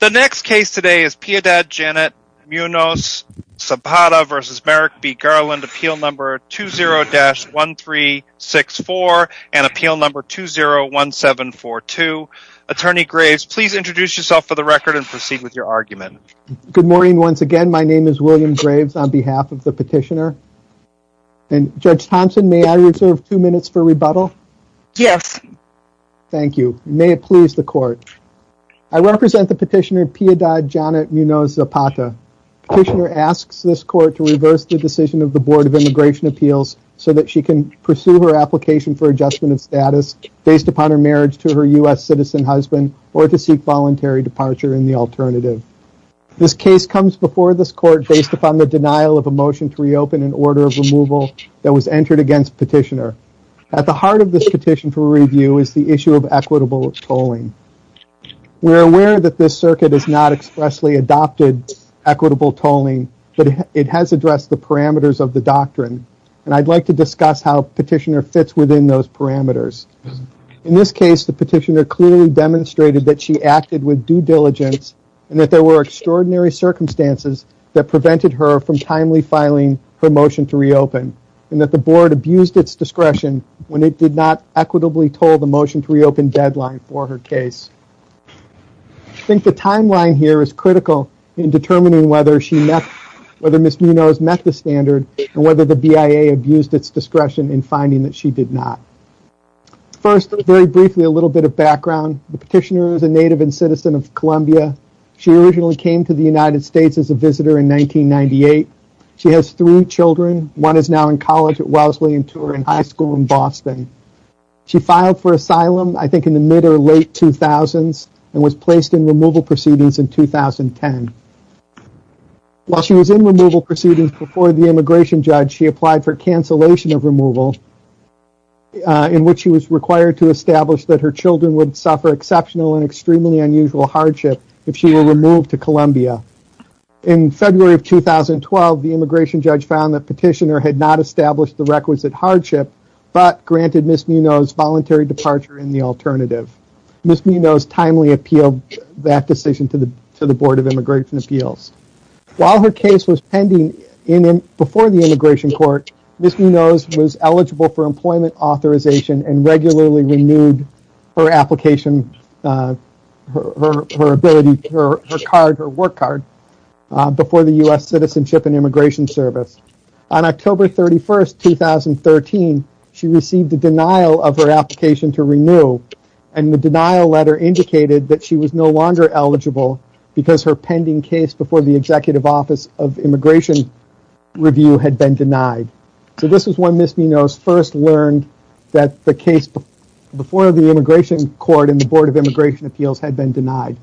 Appeal No. 20-1364 and Appeal No. 20-1742. Attorney Graves, please introduce yourself for the record and proceed with your argument. Good morning once again. My name is William Graves on behalf of the petitioner. Judge Thompson, may I reserve two minutes for rebuttal? Yes. Thank you. May it please the court. I represent the petitioner Piyadad Janet Munoz Zapata. Petitioner asks this court to reverse the decision of the Board of Immigration Appeals so that she can pursue her application for adjustment of status based upon her marriage to her U.S. citizen husband or to seek voluntary departure in the alternative. This case comes before this court based upon the denial of a motion to reopen an order of removal that was entered against petitioner. At the heart of this petition for review is the issue of equitable tolling. We are aware that this circuit has not expressly adopted equitable tolling but it has addressed the parameters of the doctrine and I'd like to discuss how petitioner fits within those parameters. In this case the petitioner clearly demonstrated that she acted with due diligence and that there were extraordinary circumstances that prevented her from timely filing her motion to reopen and that the board abused its discretion when it did not equitably toll the motion to reopen deadline for her case. I think the timeline here is critical in determining whether Ms. Munoz met the standard and whether the BIA abused its discretion in finding that she did not. First very briefly a little bit of background. The petitioner is a native and citizen of Columbia. She originally came to the United States as a visitor in 1998. She has three children. One is now in college at Wellesley and two are in high school in Boston. She filed for asylum I think in the mid or late 2000s and was placed in removal proceedings in 2010. While she was in removal proceedings before the immigration judge she applied for cancellation of removal in which she was required to establish that her children would suffer exceptional and extremely unusual hardship if she were removed to Columbia. In February of 2012 the immigration judge found that petitioner had not established the requisite hardship but granted Ms. Munoz voluntary departure in the alternative. Ms. Munoz timely appealed that decision to the Board of Immigration Appeals. While her case was pending before the immigration court Ms. Munoz was eligible for employment authorization and regularly renewed her application, her ability, her card, her work card before the U.S. Citizenship and Immigration Service. On October 31st, 2013 she received a denial of her application to renew and the denial letter indicated that she was no longer eligible because her pending case before the Executive Office of Immigration Review had been denied. So this is when Ms. Munoz first learned that the case before the immigration court and the Board of Immigration Appeals had been denied.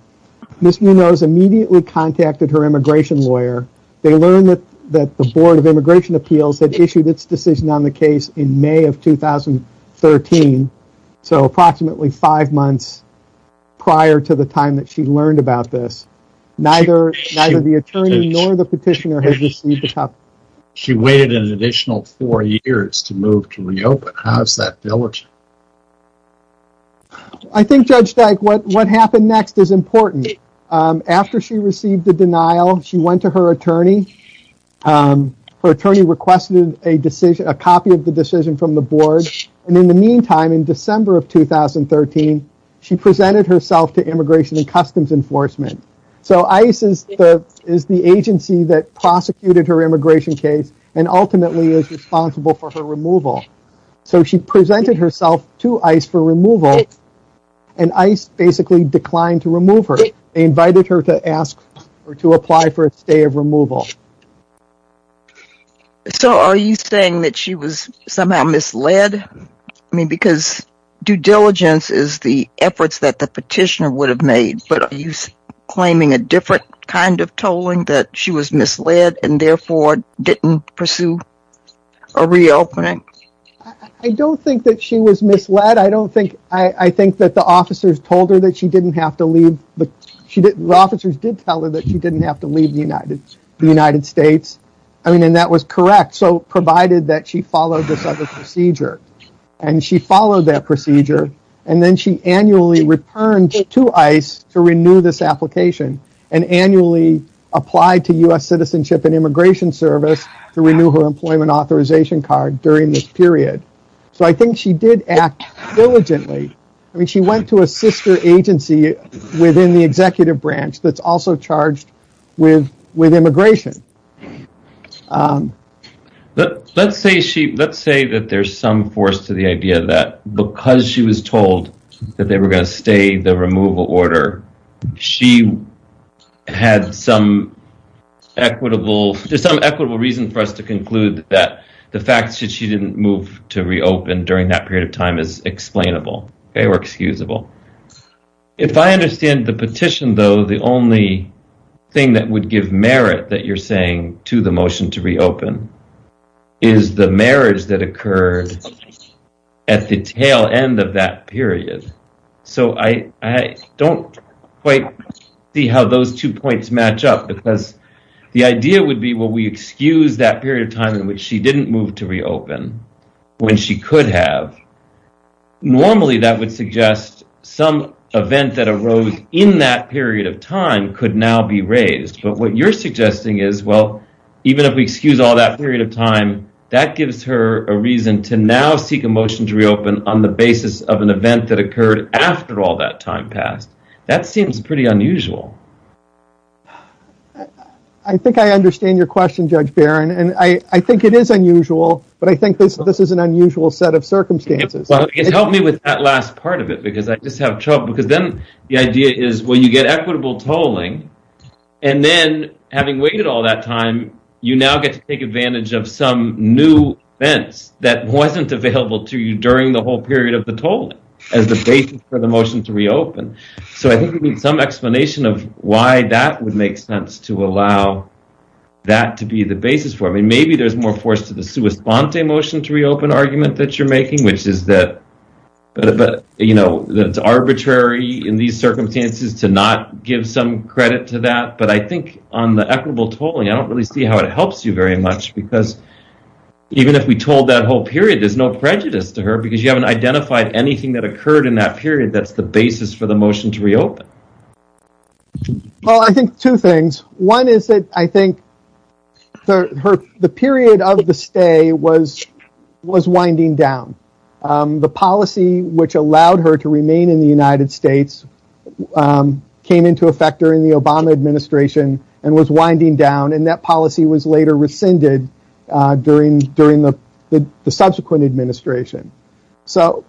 Ms. Munoz immediately contacted her immigration lawyer. They learned that the Board of Immigration Appeals had issued its decision on the case in May of 2013, so approximately five months prior to the time that she learned about this. Neither the attorney nor the petitioner had received the copy. She waited an additional four years to move to reopen. How is that diligent? I think Judge Dyke what happened next is important. After she received the denial she went to her attorney. Her attorney requested a decision, a copy of the decision from the Board and in the meantime in December of 2013 she presented herself to Immigration and Customs Enforcement. So ICE is the agency that prosecuted her immigration case and ultimately is responsible for her removal. So she presented herself to ICE for removal and ICE basically declined to remove her. They invited her to ask her to apply for a stay of removal. So are you saying that she was somehow misled? I mean because due diligence is the efforts that the petitioner would have made but are you claiming a different kind of tolling that she was misled and therefore didn't pursue a reopening? I don't think that she was misled. I think that the officers did tell her that she didn't have to leave the United States and that was correct so provided that she followed this other procedure. She followed that procedure and then she annually returned to ICE to renew this application and annually applied to U.S. Citizenship and Immigration Service to renew her employment authorization card during this period. So I think she did act diligently. I mean she went to a sister agency within the executive branch that's also charged with immigration. Let's say that there's some force to the idea that because she was told that they were going to stay the removal order she had some equitable reason for us to conclude that the fact that she didn't move to reopen during that period of time is explainable or excusable. If I understand the petition though the only thing that would give merit that you're saying to the motion to reopen is the marriage that occurred at the tail end of that period. So I don't quite see how those two points match up because the idea would be will we excuse that period of time in which she didn't move to reopen when she could have. Normally that would suggest some event that arose in that period of time could now be raised but what you're suggesting is well even if we excuse all that period of time that gives her a reason to now seek a motion to reopen on the basis of an event that occurred after all that time passed. That seems pretty unusual. I think I understand your question Judge Barron and I think it is unusual but I think this is an unusual set of circumstances. Help me with that last part of it because I just have trouble because then the idea is when you get equitable tolling and then having waited all that time you now get to take advantage of some new events that wasn't available to you during the whole period of the tolling as the basis for the motion to reopen. So I think you need some explanation of why that would make sense to allow that to be the basis for me. Maybe there's more force to the sua sponte motion to reopen argument that you're making which is that but you know that's arbitrary in these circumstances to not give some credit to that but I think on the equitable tolling I don't really see how it helps you very much because even if we told that whole period there's no prejudice to her because you haven't identified anything that occurred in that period. That's the basis for the motion to reopen. Well I think two things. One is that I think the period of the stay was winding down. The policy which allowed her to remain in the United States came into effect during the Obama administration and was winding down and that policy was later rescinded during the subsequent administration. So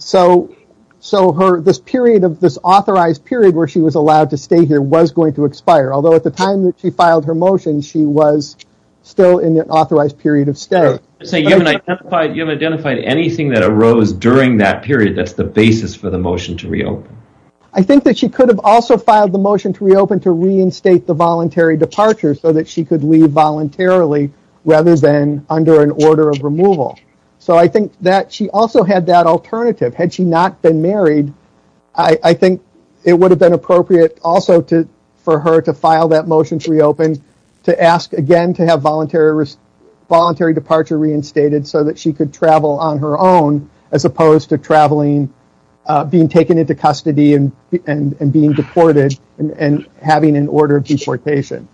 this period of this authorized period where she was allowed to stay here was going to expire although at the time that she filed her motion she was still in the authorized period of stay. So you haven't identified anything that arose during that period. That's the basis for the motion to reopen. I think that she could have also filed the motion to reopen to reinstate the voluntary departure so that she could leave voluntarily rather than under an order of removal. So I think that she also had that alternative. Had she not been married I think it would have been appropriate also for her to file that motion to reopen to ask again to have voluntary departure reinstated so that she could travel on her own as opposed to traveling, being taken into custody and being deported and having an order of deportation.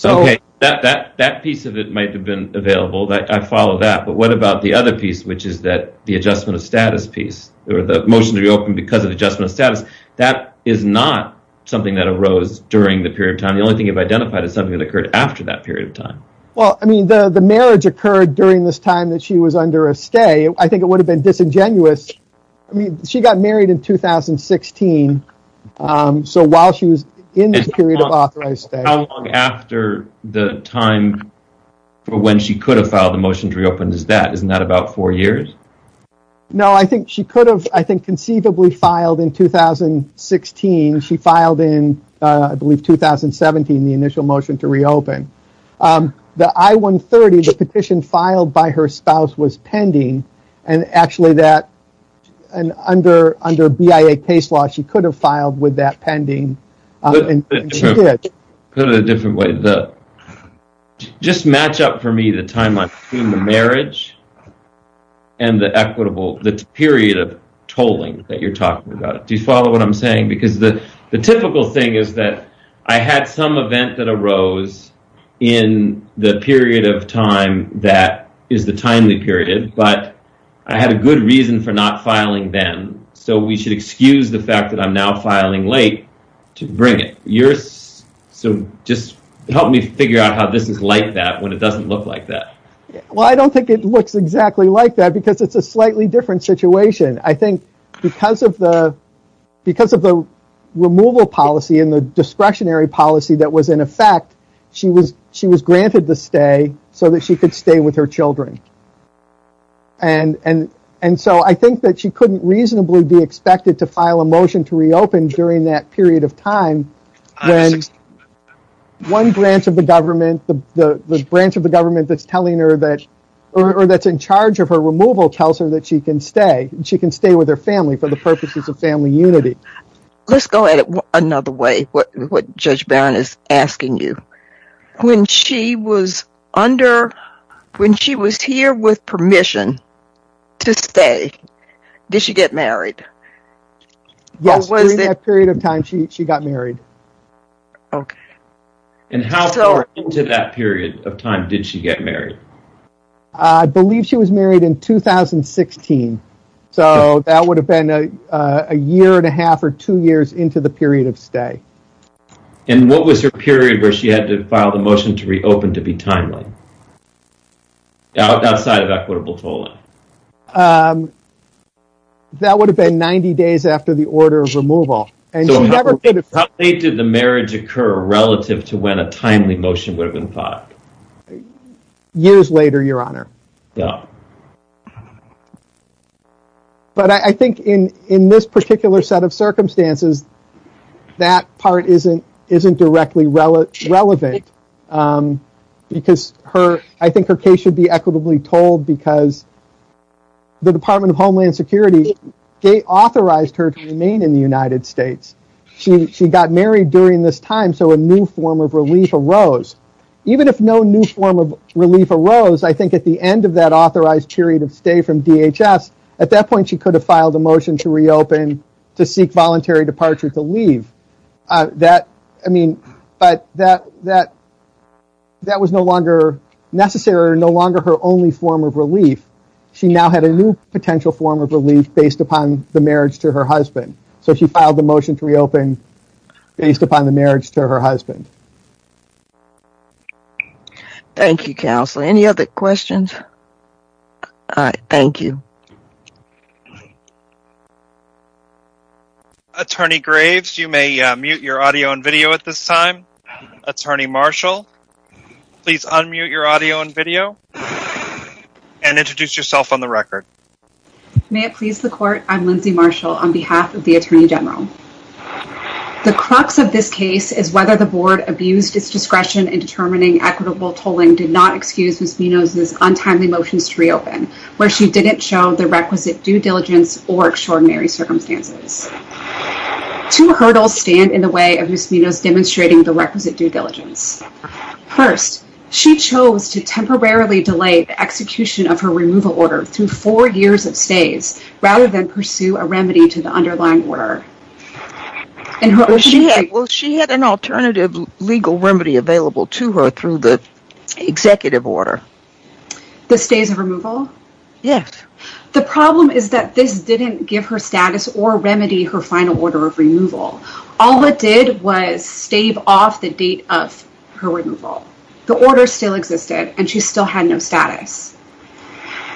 That piece of it might have been available. I follow that but what about the other piece which is the adjustment of status piece or the motion to reopen because of adjustment of status. That is not something that arose during the period of time. The only thing you've identified is something that occurred after that period of time. The marriage occurred during this time that she was under a stay. I think it would have been disingenuous. She got married in 2016 so while she was in this period of authorized stay. How long after the time for when she could have filed the motion to reopen is that? Isn't that about four years? No, I think she could have conceivably filed in 2016. She filed in I believe 2017 the initial motion to reopen. The I-130 petition filed by her spouse was pending and actually under BIA case law she could have filed with that pending and she did. Just match up for me the timeline between the marriage and the period of tolling that you're talking about. Do you follow what I'm saying? The typical thing is that I had some event that arose in the period of time that is the timely period but I had a good reason for not filing then. We should excuse the fact that I'm now filing late to bring it. Just help me figure out how this is like that when it doesn't look like that. I don't think it looks exactly like that because it's a slightly different situation. I think because of the removal policy and the discretionary policy that was in effect, she was granted the stay so that she could stay with her children. I think that she couldn't reasonably be expected to file a motion to reopen during that period of time. One branch of the government that's in charge of her removal tells her that she can stay. She can stay with her family for the purposes of family unity. Let's go at it another way what Judge Barron is asking you. When she was here with permission to stay, did she get married? During that period of time, she got married. How far into that period of time did she get married? I believe she was married in 2016. That would have been a year and a half or two years into the period of stay. What was her period where she had to file the motion to reopen to be timely? Outside of equitable tolling. That would have been 90 days after the order of removal. How late did the marriage occur relative to when a timely motion would have been filed? I think in this particular set of circumstances, that part isn't directly relevant. I think her case should be equitably tolled because the Department of Homeland Security authorized her to remain in the United States. She got married during this time so a new form of relief arose. Even if no new form of relief arose, I think at the end of that authorized period of stay from DHS, at that point she could have filed a motion to reopen to seek voluntary departure to leave. That was no longer necessary or no longer her only form of relief. She now had a new potential form of relief based upon the marriage to her husband. She filed the motion to reopen based upon the marriage to her husband. Thank you, Counselor. Any other questions? Thank you. Attorney Graves, you may mute your audio and video at this time. Attorney Marshall, please unmute your audio and video and introduce yourself on the record. May it please the court, I'm Lindsay Marshall on behalf of the Attorney General. The crux of this case is whether the Board abused its discretion in determining equitable tolling did not excuse Ms. Minos' untimely motions to reopen, where she didn't show the requisite due diligence or extraordinary circumstances. Two hurdles stand in the way of Ms. Minos demonstrating the requisite due diligence. First, she chose to temporarily delay the execution of her removal order through four years of stays rather than pursue a remedy to the underlying order. Well, she had an alternative legal remedy available to her through the executive order. The stays of removal? Yes. The problem is that this didn't give her status or remedy her final order of removal. All it did was stave off the date of her removal. The order still existed and she still had no status.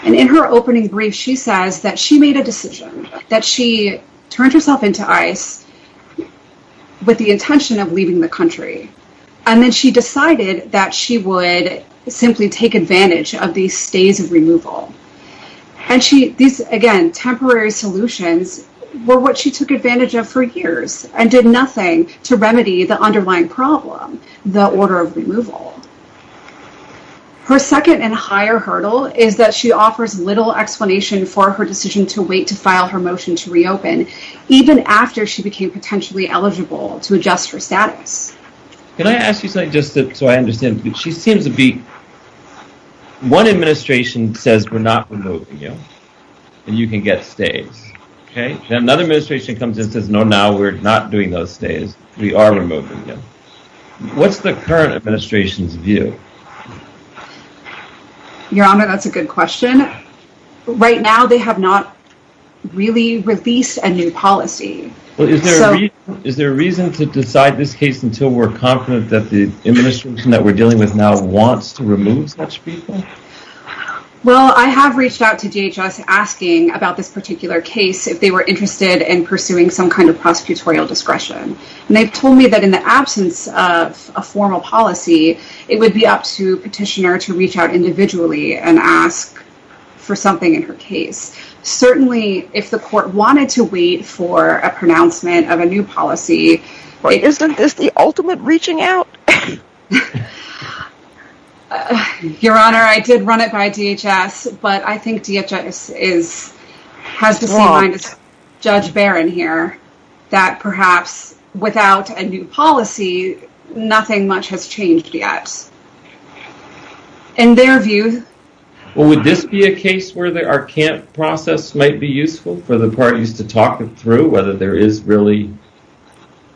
And in her opening brief, she says that she made a decision that she turned herself into ICE with the intention of leaving the country. And then she decided that she would simply take advantage of these stays of removal. And these, again, temporary solutions were what she took advantage of for years and did nothing to remedy the underlying problem, the order of removal. Her second and higher hurdle is that she offers little explanation for her decision to wait to file her motion to reopen, even after she became potentially eligible to adjust her status. Can I ask you something just so I understand? She seems to be, one administration says, we're not removing you and you can get stays. Another administration comes in and says, no, now we're not doing those stays. We are removing you. What's the current administration's view? Your Honor, that's a good question. Right now, they have not really released a new policy. Is there a reason to decide this case until we're confident that the administration that we're dealing with now wants to remove such people? Well, I have reached out to DHS asking about this particular case if they were interested in pursuing some kind of prosecutorial discretion. And they've told me that in the absence of a formal policy, it would be up to petitioner to reach out individually and ask for something in her case. Certainly, if the court wanted to wait for a pronouncement of a new policy... Isn't this the ultimate reaching out? Your Honor, I did run it by DHS, but I think DHS has the same mind as Judge Barron here, that perhaps without a new policy, nothing much has changed yet. In their view... Well, would this be a case where our camp process might be useful for the parties to talk through whether there is really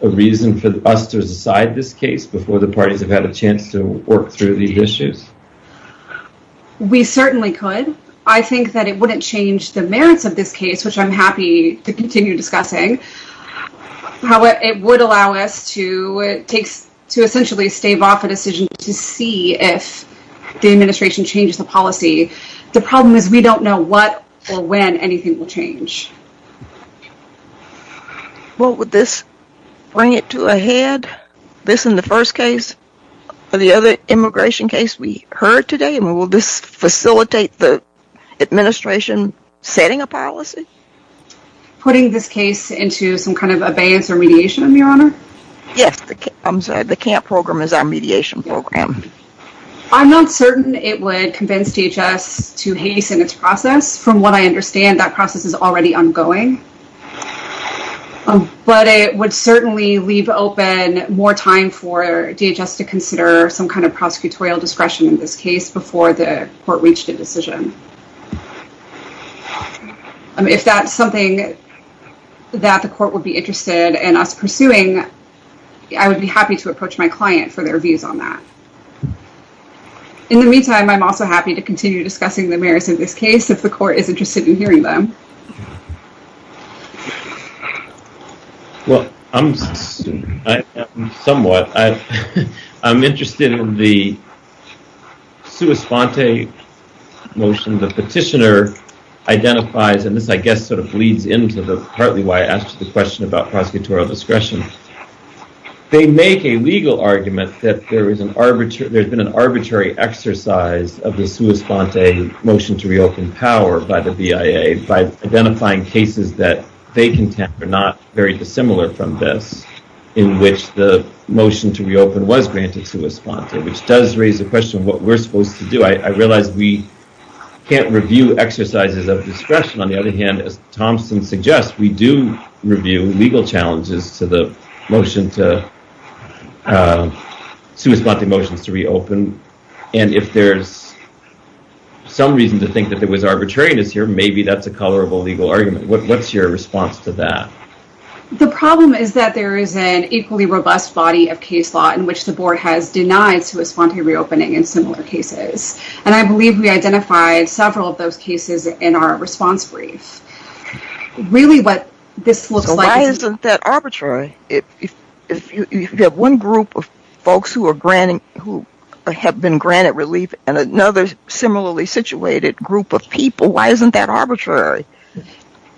a reason for us to decide this case before the parties have had a chance to work through these issues? We certainly could. I think that it wouldn't change the merits of this case, which I'm happy to continue discussing. However, it would allow us to essentially stave off a decision to see if the administration changes the policy. The problem is we don't know what or when anything will change. Well, would this bring it to a head, this in the first case, or the other immigration case we heard today? Will this facilitate the administration setting a policy? Putting this case into some kind of abeyance or mediation, Your Honor? Yes, the camp program is our mediation program. I'm not certain it would convince DHS to hasten its process. From what I understand, that process is already ongoing. But it would certainly leave open more time for DHS to consider some kind of prosecutorial discretion in this case before the court reached a decision. If that's something that the court would be interested in us pursuing, I would be happy to approach my client for their views on that. In the meantime, I'm also happy to continue discussing the merits of this case if the court is interested in hearing them. Well, I'm somewhat. I'm interested in the sua sponte motion the petitioner identifies, and this I guess sort of bleeds into partly why I asked the question about prosecutorial discretion. They make a legal argument that there's been an arbitrary exercise of the sua sponte motion to reopen power by the BIA by identifying cases that they contend are not very dissimilar from this, in which the motion to reopen was granted sua sponte, which does raise the question of what we're supposed to do. I realize we can't review exercises of discretion. On the other hand, as Thompson suggests, we do review legal challenges to the motion to sua sponte motions to reopen. And if there's some reason to think that there was arbitrariness here, maybe that's a colorable legal argument. What's your response to that? The problem is that there is an equally robust body of case law in which the board has denied sua sponte reopening in similar cases. And I believe we identified several of those cases in our response brief. So why isn't that arbitrary? If you have one group of folks who have been granted relief and another similarly situated group of people, why isn't that arbitrary?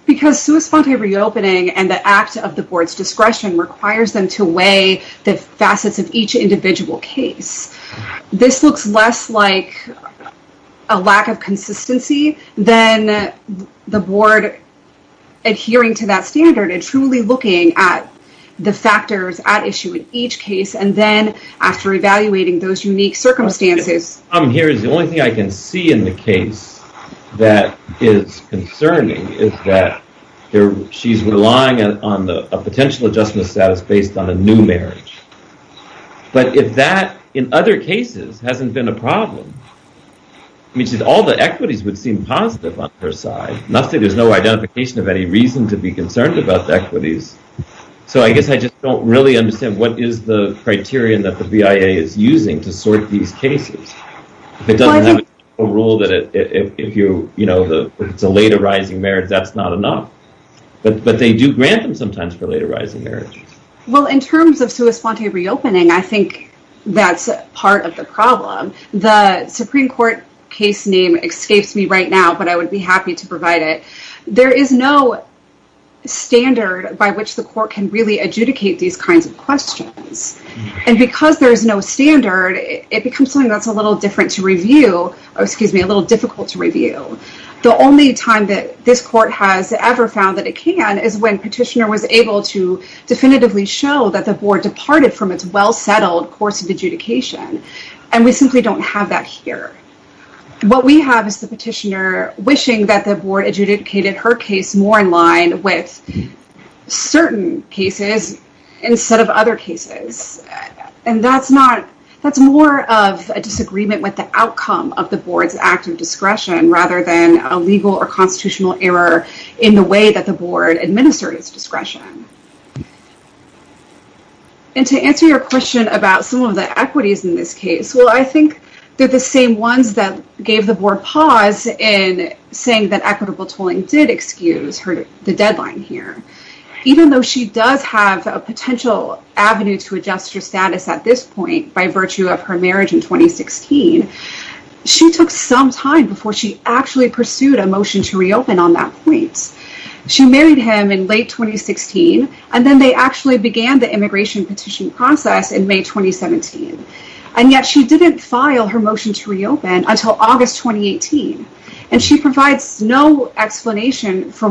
Because sua sponte reopening and the act of the board's discretion requires them to weigh the facets of each individual case. This looks less like a lack of consistency than the board adhering to that standard and truly looking at the factors at issue in each case. And then after evaluating those unique circumstances. The only thing I can see in the case that is concerning is that she's relying on a potential adjustment of status based on a new marriage. But if that, in other cases, hasn't been a problem, all the equities would seem positive on her side. There's no identification of any reason to be concerned about the equities. So I guess I just don't really understand what is the criterion that the BIA is using to sort these cases. It doesn't have a rule that if it's a later rising marriage, that's not enough. But they do grant them sometimes for later rising marriages. Well, in terms of sua sponte reopening, I think that's part of the problem. The Supreme Court case name escapes me right now, but I would be happy to provide it. There is no standard by which the court can really adjudicate these kinds of questions. And because there is no standard, it becomes something that's a little difficult to review. The only time that this court has ever found that it can is when petitioner was able to definitively show that the board departed from its well settled course of adjudication. And we simply don't have that here. What we have is the petitioner wishing that the board adjudicated her case more in line with certain cases instead of other cases. And that's more of a disagreement with the outcome of the board's act of discretion rather than a legal or constitutional error in the way that the board administered its discretion. And to answer your question about some of the equities in this case, well, I think they're the same ones that gave the board pause in saying that equitable tolling did excuse the deadline here. Even though she does have a potential avenue to adjust her status at this point by virtue of her marriage in 2016, she took some time before she actually pursued a motion to reopen on that point. She married him in late 2016, and then they actually began the immigration petition process in May 2017. And yet she didn't file her motion to reopen until August 2018. And she provides no explanation for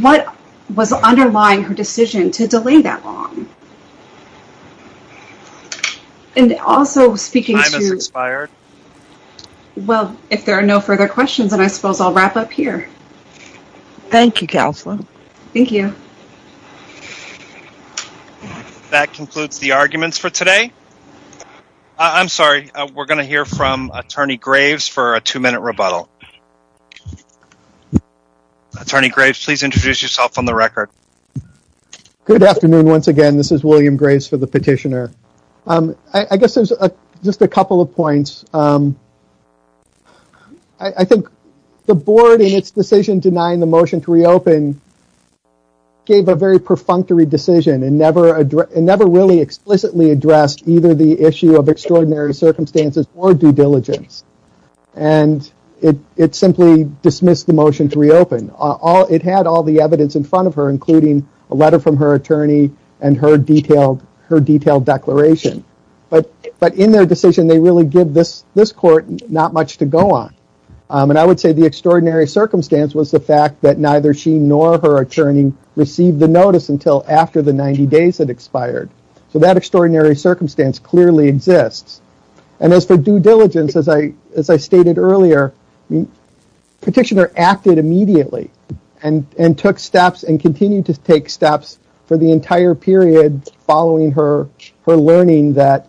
what was underlying her decision to delay that long. And also speaking to... Time has expired. Well, if there are no further questions, then I suppose I'll wrap up here. Thank you, Counselor. Thank you. That concludes the arguments for today. I'm sorry. We're going to hear from Attorney Graves for a two-minute rebuttal. Attorney Graves, please introduce yourself on the record. Good afternoon. Once again, this is William Graves for the petitioner. I guess there's just a couple of points. I think the Board, in its decision denying the motion to reopen, gave a very perfunctory decision and never really explicitly addressed either the issue of extraordinary circumstances or due diligence. And it simply dismissed the motion to reopen. It had all the evidence in front of her, including a letter from her attorney and her detailed declaration. But in their decision, they really give this court not much to go on. And I would say the extraordinary circumstance was the fact that neither she nor her attorney received the notice until after the 90 days had expired. So that extraordinary circumstance clearly exists. And as for due diligence, as I stated earlier, the petitioner acted immediately and took steps and continued to take steps for the entire period following her learning that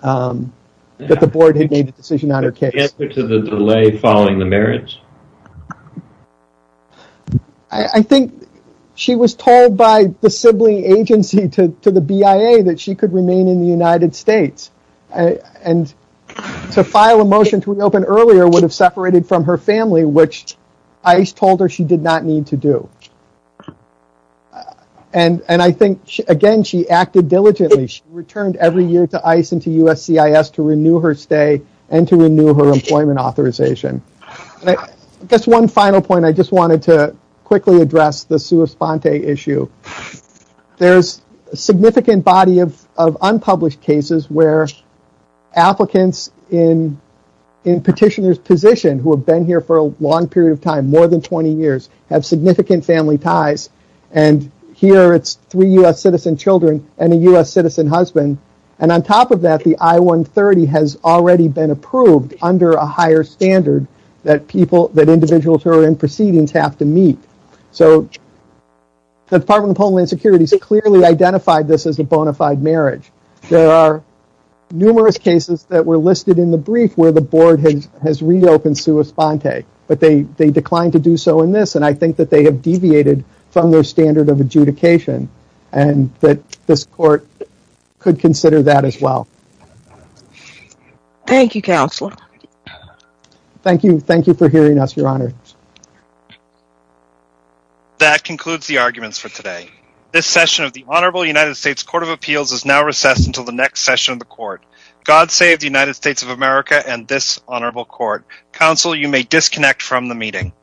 the Board had made a decision on her case. The answer to the delay following the marriage? I think she was told by the sibling agency to the BIA that she could remain in the United States. And to file a motion to reopen earlier would have separated from her family, which ICE told her she did not need to do. And I think, again, she acted diligently. She returned every year to ICE and to USCIS to renew her stay and to renew her employment authorization. Just one final point, I just wanted to quickly address the sua sponte issue. There's a significant body of unpublished cases where applicants in petitioner's position who have been here for a long period of time, more than 20 years, have significant family ties. And here it's three U.S. citizen children and a U.S. citizen husband. And on top of that, the I-130 has already been approved under a higher standard that individuals who are in proceedings have to meet. So the Department of Homeland Security has clearly identified this as a bona fide marriage. There are numerous cases that were listed in the brief where the Board has reopened sua sponte, but they declined to do so in this. And I think that they have deviated from their standard of adjudication and that this court could consider that as well. Thank you, Counselor. Thank you. Thank you for hearing us, Your Honor. That concludes the arguments for today. This session of the Honorable United States Court of Appeals is now recessed until the next session of the court. God save the United States of America and this honorable court. Counsel, you may disconnect from the meeting.